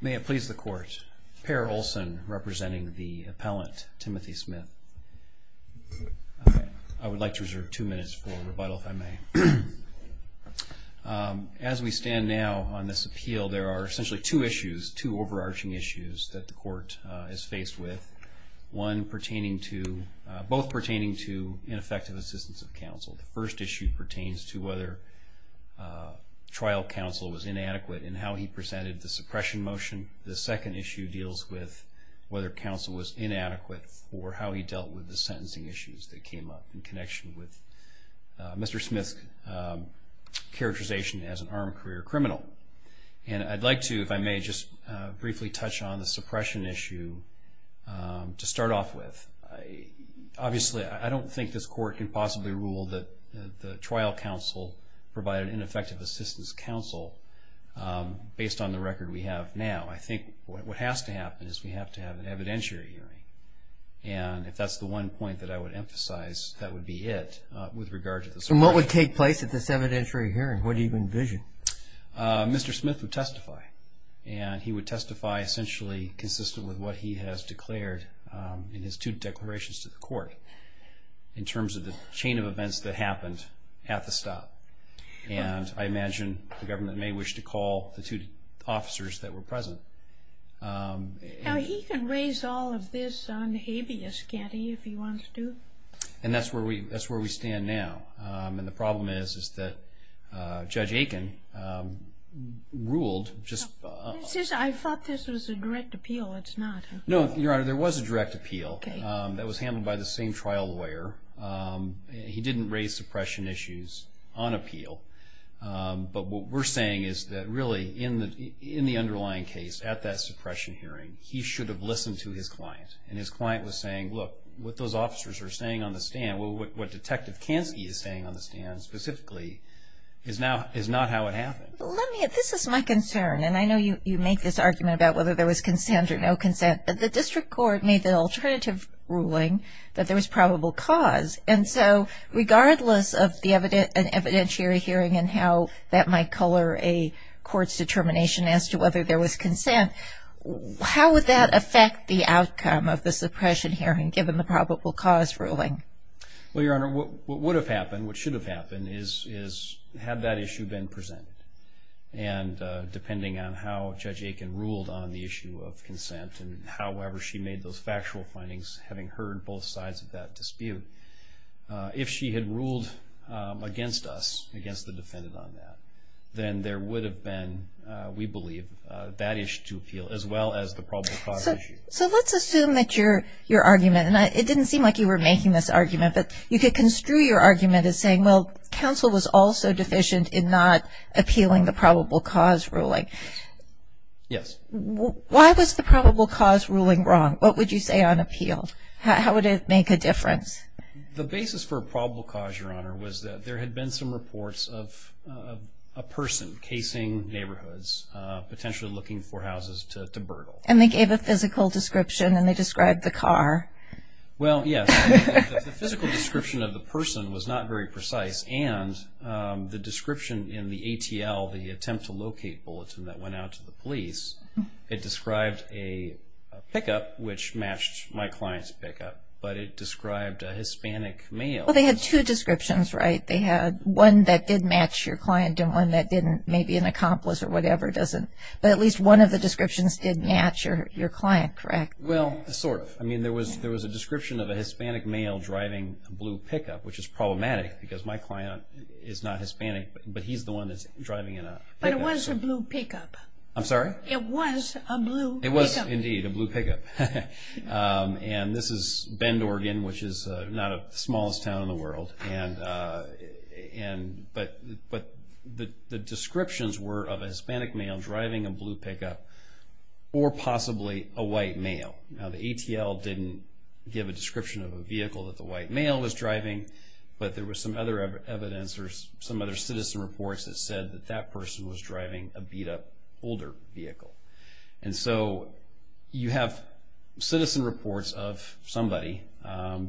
May it please the court, Per Olson representing the appellant Timothy Smith. I would like to reserve two minutes for rebuttal if I may. As we stand now on this appeal, there are essentially two issues, two overarching issues that the court is faced with. One pertaining to, both pertaining to ineffective assistance of counsel. The first issue pertains to whether trial counsel was inadequate in how he presented the suppression motion. The second issue deals with whether counsel was inadequate for how he dealt with the sentencing issues that came up in connection with Mr. Smith's characterization as an armed career criminal. And I'd like to, if I may, just briefly touch on the suppression issue to start off with. Obviously, I don't think this court can possibly rule that the trial counsel provided ineffective assistance counsel based on the record we have now. I think what has to happen is we have to have an evidentiary hearing. And if that's the one point that I would emphasize, that would be it with regard to the suppression. And what would take place at this evidentiary hearing? What do you envision? Mr. Smith would testify. And he would testify essentially consistent with what he has declared in his two declarations to the court in terms of the chain of events that happened at the stop. And I imagine the government may wish to call the two officers that were present. He can raise all of this on habeas, can't he, if he wants to? And that's where we stand now. And the problem is, is that Judge Aiken ruled just- I thought this was a direct appeal. It's not. No, Your Honor, there was a direct appeal that was handled by the same trial lawyer. He didn't raise suppression issues on appeal. But what we're saying is that really in the underlying case, at that suppression hearing, he should have listened to his client. And his client was saying, look, what those officers are saying on the stand, what Detective Kansky is saying on the stand specifically, is not how it happened. Let me- this is my concern. And I know you make this argument about whether there was consent or no consent. But the district court made the alternative ruling that there was probable cause. And so regardless of the evidentiary hearing and how that might color a court's determination as to whether there was consent, how would that affect the outcome of the suppression hearing, given the probable cause ruling? Well, Your Honor, what would have happened, what should have happened, is had that issue been presented. And depending on how Judge Aiken ruled on the issue of consent and however she made those factual findings, having heard both sides of that dispute, if she had ruled against us, against the defendant on that, then there would have been, we believe, that issue to appeal as well as the probable cause issue. So let's assume that your argument, and it didn't seem like you were making this argument, but you could construe your argument as saying, well, counsel was also deficient in not appealing the probable cause ruling. Yes. Why was the probable cause ruling wrong? What would you say on appeal? How would it make a difference? The basis for a probable cause, Your Honor, was that there had been some reports of a person casing neighborhoods, potentially looking for houses to burgle. And they gave a physical description, and they described the car. Well, yes. The physical description of the person was not very precise, and the description in the ATL, the attempt to locate bulletin that went out to the police, it described a pickup which matched my client's pickup, but it described a Hispanic male. Well, they had two descriptions, right? They had one that did match your client and one that didn't, maybe an accomplice or whatever, but at least one of the descriptions did match your client, correct? Well, sort of. I mean, there was a description of a Hispanic male driving a blue pickup, which is problematic because my client is not Hispanic, but he's the one that's driving a pickup. But it was a blue pickup. I'm sorry? It was a blue pickup. It was, indeed, a blue pickup. And this is Bend, Oregon, which is not the smallest town in the world. But the descriptions were of a Hispanic male driving a blue pickup or possibly a white male. Now, the ATL didn't give a description of a vehicle that the white male was driving, but there was some other evidence or some other citizen reports that said that that person was driving a beat-up older vehicle. And so you have citizen reports of somebody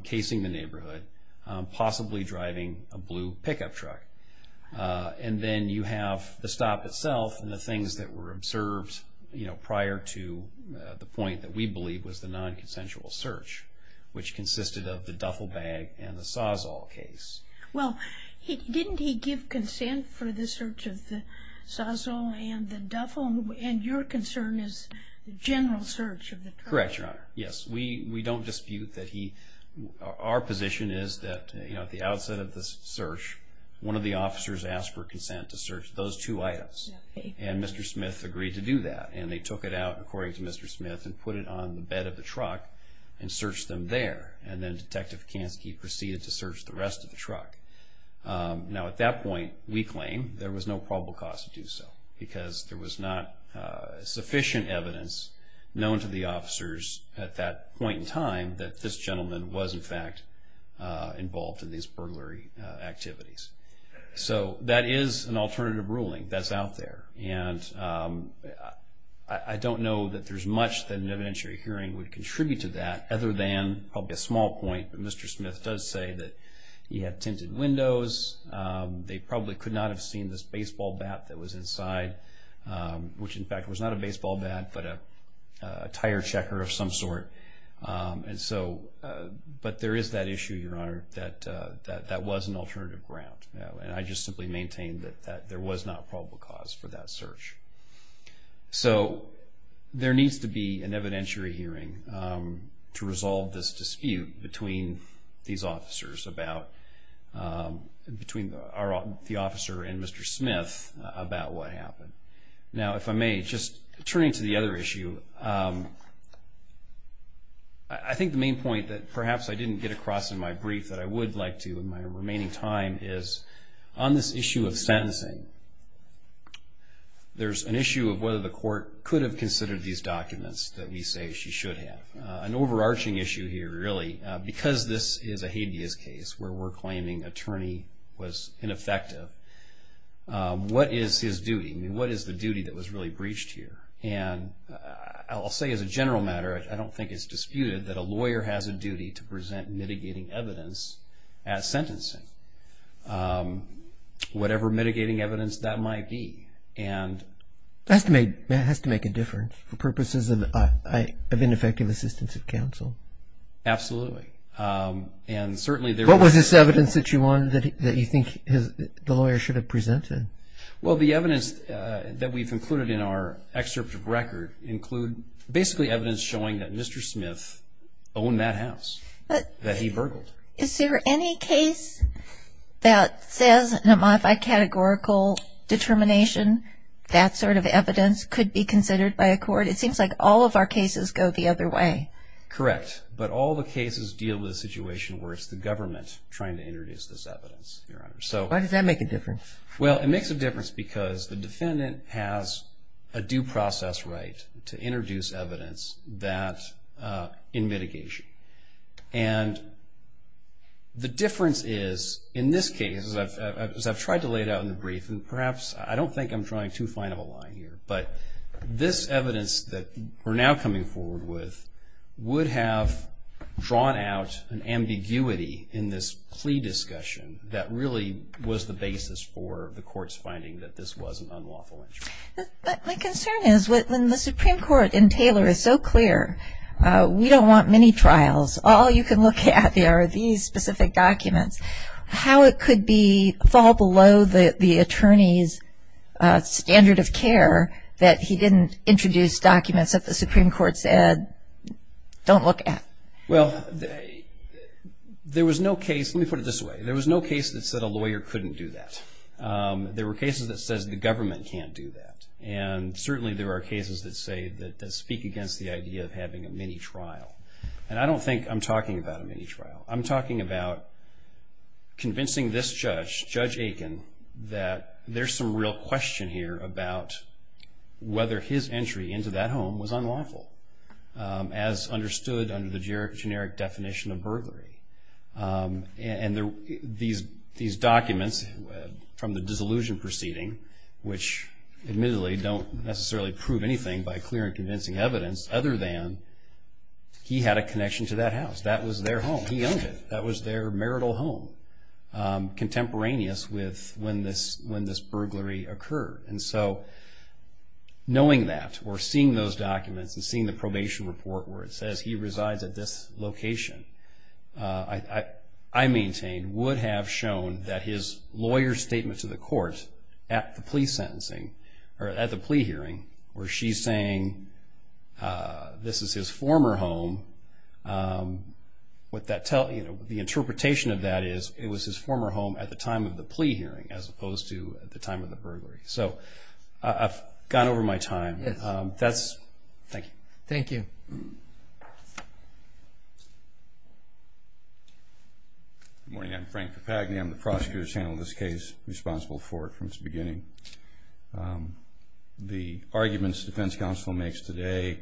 casing the neighborhood, possibly driving a blue pickup truck. And then you have the stop itself and the things that were observed, you know, prior to the point that we believe was the non-consensual search, which consisted of the duffel bag and the Sawzall case. Well, didn't he give consent for the search of the Sawzall and the duffel? Oh, and your concern is the general search of the truck. Correct, Your Honor. Yes, we don't dispute that he – our position is that, you know, at the outset of the search, one of the officers asked for consent to search those two items. And Mr. Smith agreed to do that. And they took it out, according to Mr. Smith, and put it on the bed of the truck and searched them there. And then Detective Kansky proceeded to search the rest of the truck. Now, at that point, we claim there was no probable cause to do so because there was not sufficient evidence known to the officers at that point in time that this gentleman was, in fact, involved in these burglary activities. So that is an alternative ruling that's out there. And I don't know that there's much that an evidentiary hearing would contribute to that other than probably a small point that Mr. Smith does say that he had tinted windows, they probably could not have seen this baseball bat that was inside, which, in fact, was not a baseball bat but a tire checker of some sort. And so – but there is that issue, Your Honor, that that was an alternative ground. And I just simply maintain that there was not probable cause for that search. So there needs to be an evidentiary hearing to resolve this dispute between these officers about – between the officer and Mr. Smith about what happened. Now, if I may, just turning to the other issue, I think the main point that perhaps I didn't get across in my brief that I would like to in my remaining time is on this issue of sentencing, there's an issue of whether the court could have considered these documents that we say she should have. An overarching issue here, really, because this is a habeas case where we're claiming attorney was ineffective, what is his duty? I mean, what is the duty that was really breached here? And I'll say as a general matter, I don't think it's disputed that a lawyer has a duty to present mitigating evidence at sentencing, whatever mitigating evidence that might be. It has to make a difference for purposes of ineffective assistance of counsel. Absolutely. What was this evidence that you think the lawyer should have presented? Well, the evidence that we've included in our excerpt of record include basically evidence showing that Mr. Smith owned that house that he burgled. Is there any case that says in a modified categorical determination that sort of evidence could be considered by a court? It seems like all of our cases go the other way. Correct. But all the cases deal with a situation where it's the government trying to introduce this evidence, Your Honor. Why does that make a difference? Well, it makes a difference because the defendant has a due process right to introduce evidence in mitigation. And the difference is, in this case, as I've tried to lay it out in the brief, and perhaps I don't think I'm drawing too fine of a line here, but this evidence that we're now coming forward with would have drawn out an ambiguity in this plea discussion that really was the basis for the court's finding that this was an unlawful entry. My concern is when the Supreme Court in Taylor is so clear, we don't want mini-trials, all you can look at are these specific documents, how it could fall below the attorney's standard of care that he didn't introduce documents that the Supreme Court said don't look at? Well, there was no case, let me put it this way, there was no case that said a lawyer couldn't do that. There were cases that said the government can't do that. And certainly there are cases that speak against the idea of having a mini-trial. And I don't think I'm talking about a mini-trial. I'm talking about convincing this judge, Judge Aiken, that there's some real question here about whether his entry into that home was unlawful, as understood under the generic definition of burglary. And these documents from the dissolution proceeding, which admittedly don't necessarily prove anything by clear and convincing evidence, other than he had a connection to that house. That was their home. He owned it. That was their marital home, contemporaneous with when this burglary occurred. And so knowing that, or seeing those documents, and seeing the probation report where it says he resides at this location, I maintain would have shown that his lawyer's statement to the court at the plea hearing, where she's saying this is his former home, the interpretation of that is it was his former home at the time of the plea hearing, as opposed to at the time of the burglary. So I've gone over my time. Thank you. Thank you. Good morning. I'm Frank Papagni. I'm the prosecutor who's handled this case, responsible for it from its beginning. The arguments the defense counsel makes today,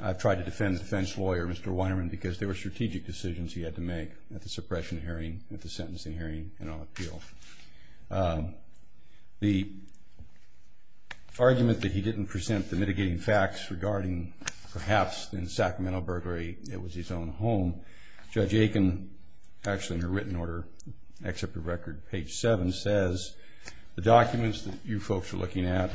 I've tried to defend the defense lawyer, Mr. Weinerman, because there were strategic decisions he had to make at the suppression hearing, at the sentencing hearing, and on appeal. The argument that he didn't present the mitigating facts regarding, perhaps in Sacramento burglary, it was his own home, Judge Aiken, actually in her written order, except for record page 7, says the documents that you folks are looking at,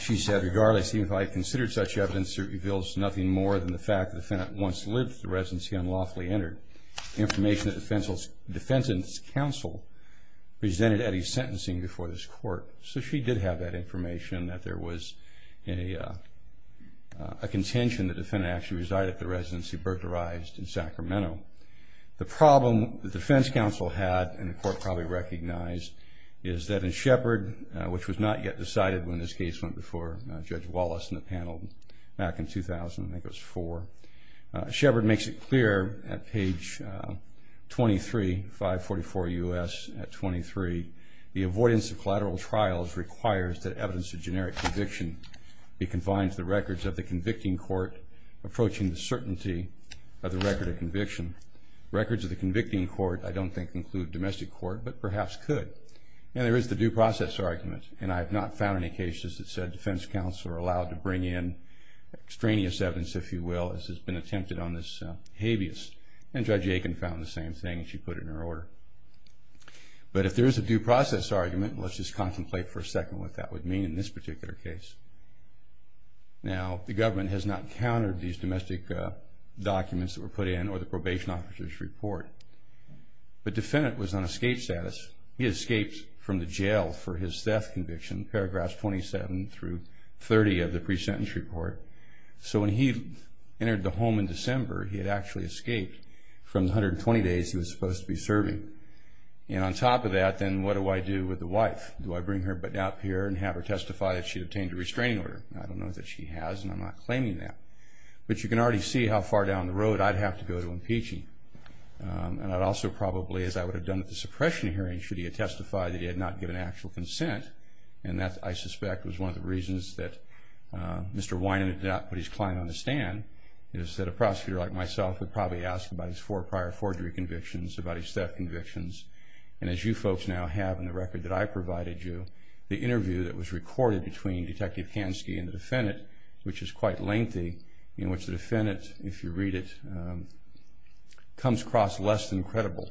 she said, regardless, he might have considered such evidence to reveal nothing more than the fact that the defendant once lived at the residence he unlawfully entered. Information that the defense counsel presented at his sentencing before this court. So she did have that information, that there was a contention the defendant actually resided at the residence he burglarized in Sacramento. The problem the defense counsel had, and the court probably recognized, is that in Shepard, which was not yet decided when this case went before Judge Wallace and the panel, back in 2000, I think it was 4, Shepard makes it clear at page 23, 544 U.S. at 23, the avoidance of collateral trials requires that evidence of generic conviction be confined to the records of the convicting court, approaching the certainty of the record of conviction. Records of the convicting court, I don't think, include domestic court, but perhaps could. And there is the due process argument, and I have not found any cases that said defense counsel are allowed to bring in extraneous evidence, if you will, as has been attempted on this habeas. And Judge Aiken found the same thing, and she put it in her order. But if there is a due process argument, let's just contemplate for a second what that would mean in this particular case. Now, the government has not countered these domestic documents that were put in or the probation officer's report. The defendant was on escape status. He escaped from the jail for his theft conviction, in paragraphs 27 through 30 of the pre-sentence report. So when he entered the home in December, he had actually escaped from the 120 days he was supposed to be serving. And on top of that, then, what do I do with the wife? Do I bring her up here and have her testify that she obtained a restraining order? I don't know that she has, and I'm not claiming that. But you can already see how far down the road I'd have to go to impeach him. And I'd also probably, as I would have done at the suppression hearing, should he have testified that he had not given actual consent. And that, I suspect, was one of the reasons that Mr. Wynum did not put his client on the stand, is that a prosecutor like myself would probably ask about his four prior forgery convictions, about his theft convictions. And as you folks now have in the record that I provided you, the interview that was recorded between Detective Kansky and the defendant, which is quite lengthy, in which the defendant, if you read it, comes across less than credible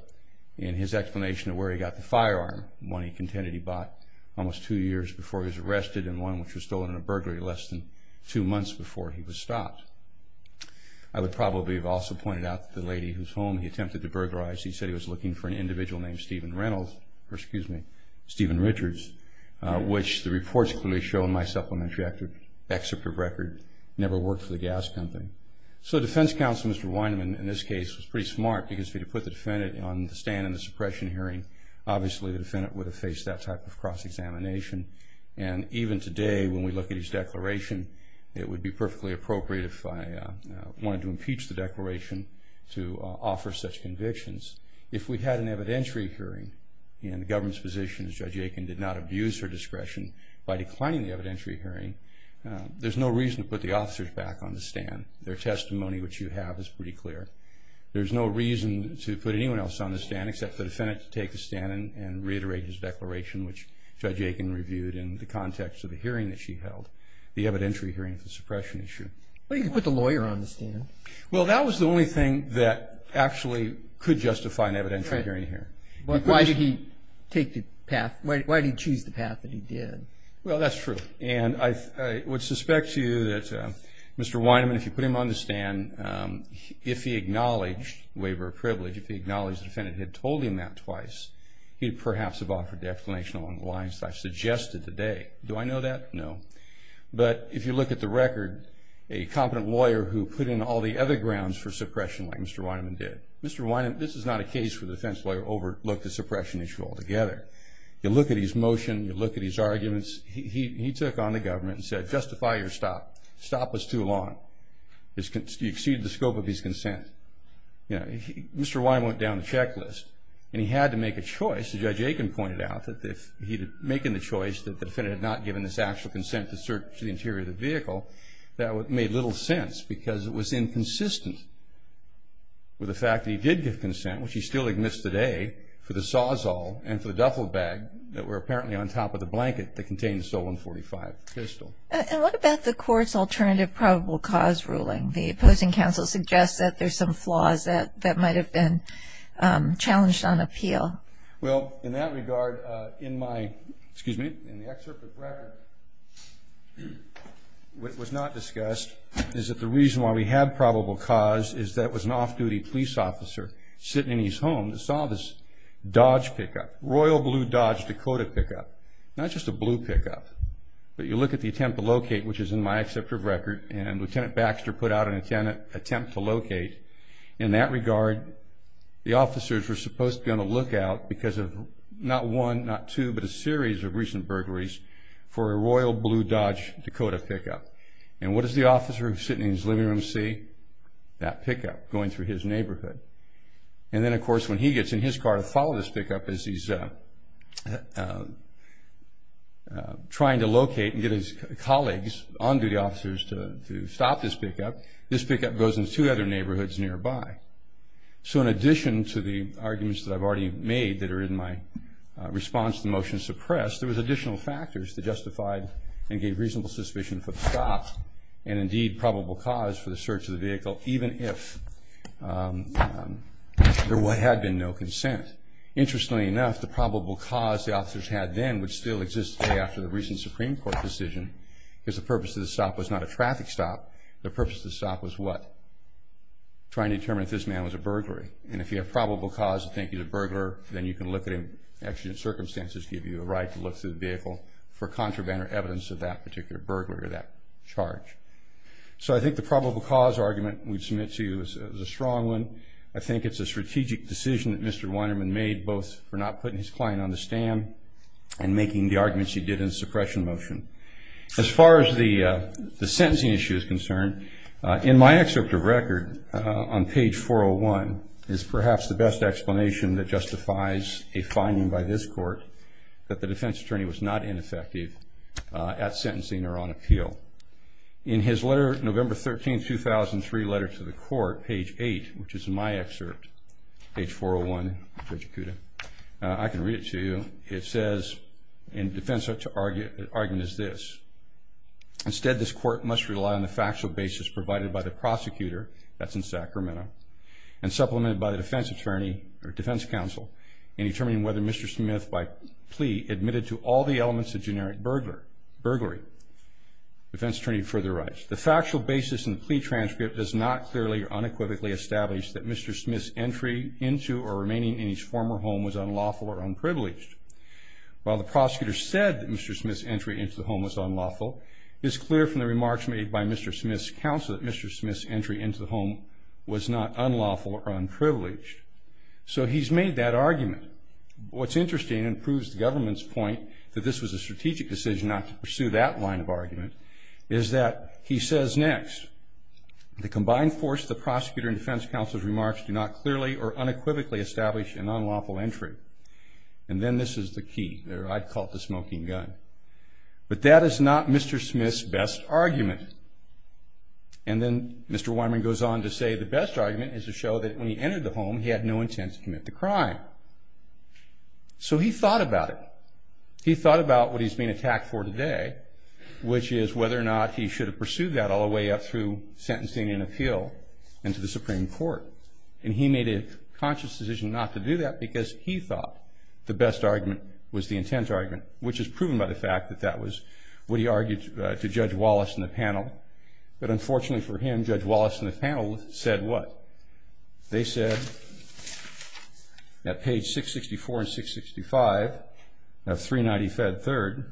in his explanation of where he got the firearm, one he contended he bought almost two years before he was arrested, and one which was stolen in a burglary less than two months before he was stopped. I would probably have also pointed out that the lady whose home he attempted to burglarize, he said he was looking for an individual named Stephen Reynolds, or excuse me, Stephen Richards, which the reports clearly show in my supplementary excerpt of record, never worked for the gas company. So the defense counsel, Mr. Wynum, in this case, was pretty smart, because if he had put the defendant on the stand in the suppression hearing, obviously the defendant would have faced that type of cross-examination. And even today, when we look at his declaration, it would be perfectly appropriate if I wanted to impeach the declaration to offer such convictions. If we had an evidentiary hearing, and the government's position is Judge Aiken did not abuse her discretion by declining the evidentiary hearing, there's no reason to put the officers back on the stand. Their testimony, which you have, is pretty clear. There's no reason to put anyone else on the stand, except for the defendant to take the stand and reiterate his declaration, which Judge Aiken reviewed in the context of the hearing that she held, the evidentiary hearing of the suppression issue. But he could put the lawyer on the stand. Well, that was the only thing that actually could justify an evidentiary hearing here. Why did he choose the path that he did? Well, that's true. And I would suspect to you that Mr. Weinman, if you put him on the stand, if he acknowledged waiver of privilege, if he acknowledged the defendant had told him that twice, he'd perhaps have offered the explanation along the lines that I've suggested today. Do I know that? No. But if you look at the record, a competent lawyer who put in all the other grounds for suppression like Mr. Weinman did, Mr. Weinman, this is not a case where the defense lawyer overlooked the suppression issue altogether. You look at his motion. You look at his arguments. He took on the government and said, justify your stop. Stop was too long. You exceeded the scope of his consent. Mr. Weinman went down the checklist, and he had to make a choice. Judge Aiken pointed out that if he'd making the choice that the defendant had not given this actual consent to search the interior of the vehicle, that made little sense because it was inconsistent with the fact that he did give consent, which he still admits today, for the Sawzall and for the duffel bag that were apparently on top of the blanket that contained the stolen .45 pistol. And what about the court's alternative probable cause ruling? The opposing counsel suggests that there's some flaws that might have been challenged on appeal. Well, in that regard, in my, excuse me, in the excerpt of the record, what was not discussed is that the reason why we had probable cause is that it was an off-duty police officer sitting in his home that saw this Dodge pickup, Royal Blue Dodge Dakota pickup. Now, it's just a blue pickup, but you look at the attempt to locate, which is in my excerpt of record, and Lieutenant Baxter put out an attempt to locate. In that regard, the officers were supposed to be on the lookout because of not one, not two, but a series of recent burglaries for a Royal Blue Dodge Dakota pickup. And what does the officer who was sitting in his living room see? That pickup going through his neighborhood. And then, of course, when he gets in his car to follow this pickup as he's trying to locate and get his colleagues, on-duty officers, to stop this pickup, this pickup goes into two other neighborhoods nearby. So in addition to the arguments that I've already made that are in my response to the motion suppressed, there was additional factors that justified and gave reasonable suspicion for the stop and, indeed, probable cause for the search of the vehicle, even if there had been no consent. Interestingly enough, the probable cause the officers had then would still exist today after the recent Supreme Court decision, because the purpose of the stop was not a traffic stop. The purpose of the stop was what? Trying to determine if this man was a burglary. And if you have probable cause to think he's a burglar, then you can look at him, and circumstances give you a right to look through the vehicle for contraband or evidence of that particular burglar or that charge. So I think the probable cause argument we'd submit to you is a strong one. I think it's a strategic decision that Mr. Weinerman made, both for not putting his client on the stand and making the arguments he did in the suppression motion. As far as the sentencing issue is concerned, in my excerpt of record, on page 401, is perhaps the best explanation that justifies a finding by this court that the defense attorney was not ineffective at sentencing or on appeal. In his letter, November 13, 2003, letter to the court, page 8, which is in my excerpt, page 401, Judge Acuda, I can read it to you. It says, and defense argument is this, Instead, this court must rely on the factual basis provided by the prosecutor, that's in Sacramento, and supplemented by the defense attorney or defense counsel in determining whether Mr. Smith, by plea, admitted to all the elements of generic burglary. Defense attorney further writes, The factual basis in the plea transcript does not clearly or unequivocally establish that Mr. Smith's entry into or remaining in his former home was unlawful or unprivileged. While the prosecutor said that Mr. Smith's entry into the home was unlawful, it is clear from the remarks made by Mr. Smith's counsel that Mr. Smith's entry into the home was not unlawful or unprivileged. So he's made that argument. What's interesting, and proves the government's point that this was a strategic decision not to pursue that line of argument, is that he says next, The combined force of the prosecutor and defense counsel's remarks do not clearly or unequivocally establish an unlawful entry. And then this is the key. I'd call it the smoking gun. But that is not Mr. Smith's best argument. And then Mr. Wyman goes on to say, The best argument is to show that when he entered the home, he had no intent to commit the crime. So he thought about it. He thought about what he's being attacked for today, which is whether or not he should have pursued that all the way up through sentencing and appeal and to the Supreme Court. And he made a conscious decision not to do that because he thought the best argument was the intent argument, which is proven by the fact that that was what he argued to Judge Wallace in the panel. But unfortunately for him, Judge Wallace in the panel said what? They said at page 664 and 665 of 390 Fed 3rd,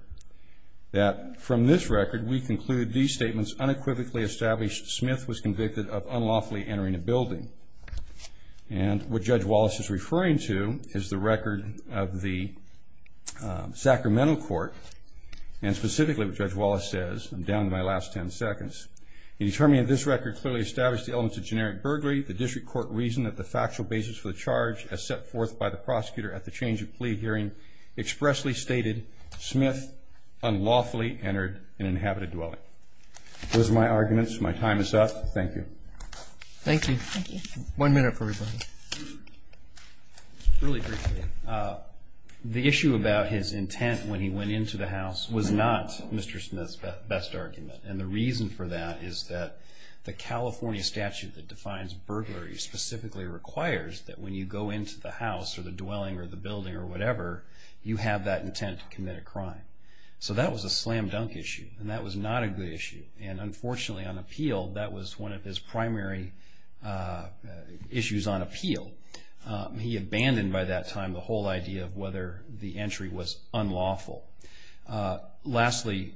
that from this record we conclude these statements unequivocally establish Smith was convicted of unlawfully entering a building. And what Judge Wallace is referring to is the record of the Sacramento Court, and specifically what Judge Wallace says. I'm down to my last 10 seconds. He determined this record clearly established the elements of generic burglary. The district court reasoned that the factual basis for the charge as set forth by the prosecutor at the change of plea hearing expressly stated Smith unlawfully entered an inhabited dwelling. Those are my arguments. My time is up. Thank you. Thank you. One minute for everybody. Really briefly, the issue about his intent when he went into the house was not Mr. Smith's best argument. And the reason for that is that the California statute that defines burglary specifically requires that when you go into the house or the dwelling or the building or whatever, you have that intent to commit a crime. So that was a slam dunk issue. And that was not a good issue. And, unfortunately, on appeal, that was one of his primary issues on appeal. He abandoned by that time the whole idea of whether the entry was unlawful. Lastly,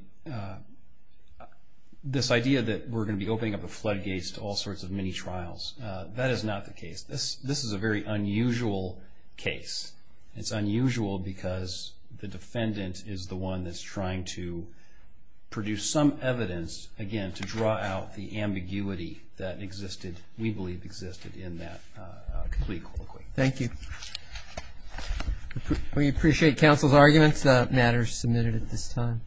this idea that we're going to be opening up the floodgates to all sorts of mini-trials, that is not the case. This is a very unusual case. It's unusual because the defendant is the one that's trying to produce some evidence, again, to draw out the ambiguity that existed, we believe existed in that plea colloquy. Thank you. We appreciate counsel's arguments. The matter is submitted at this time.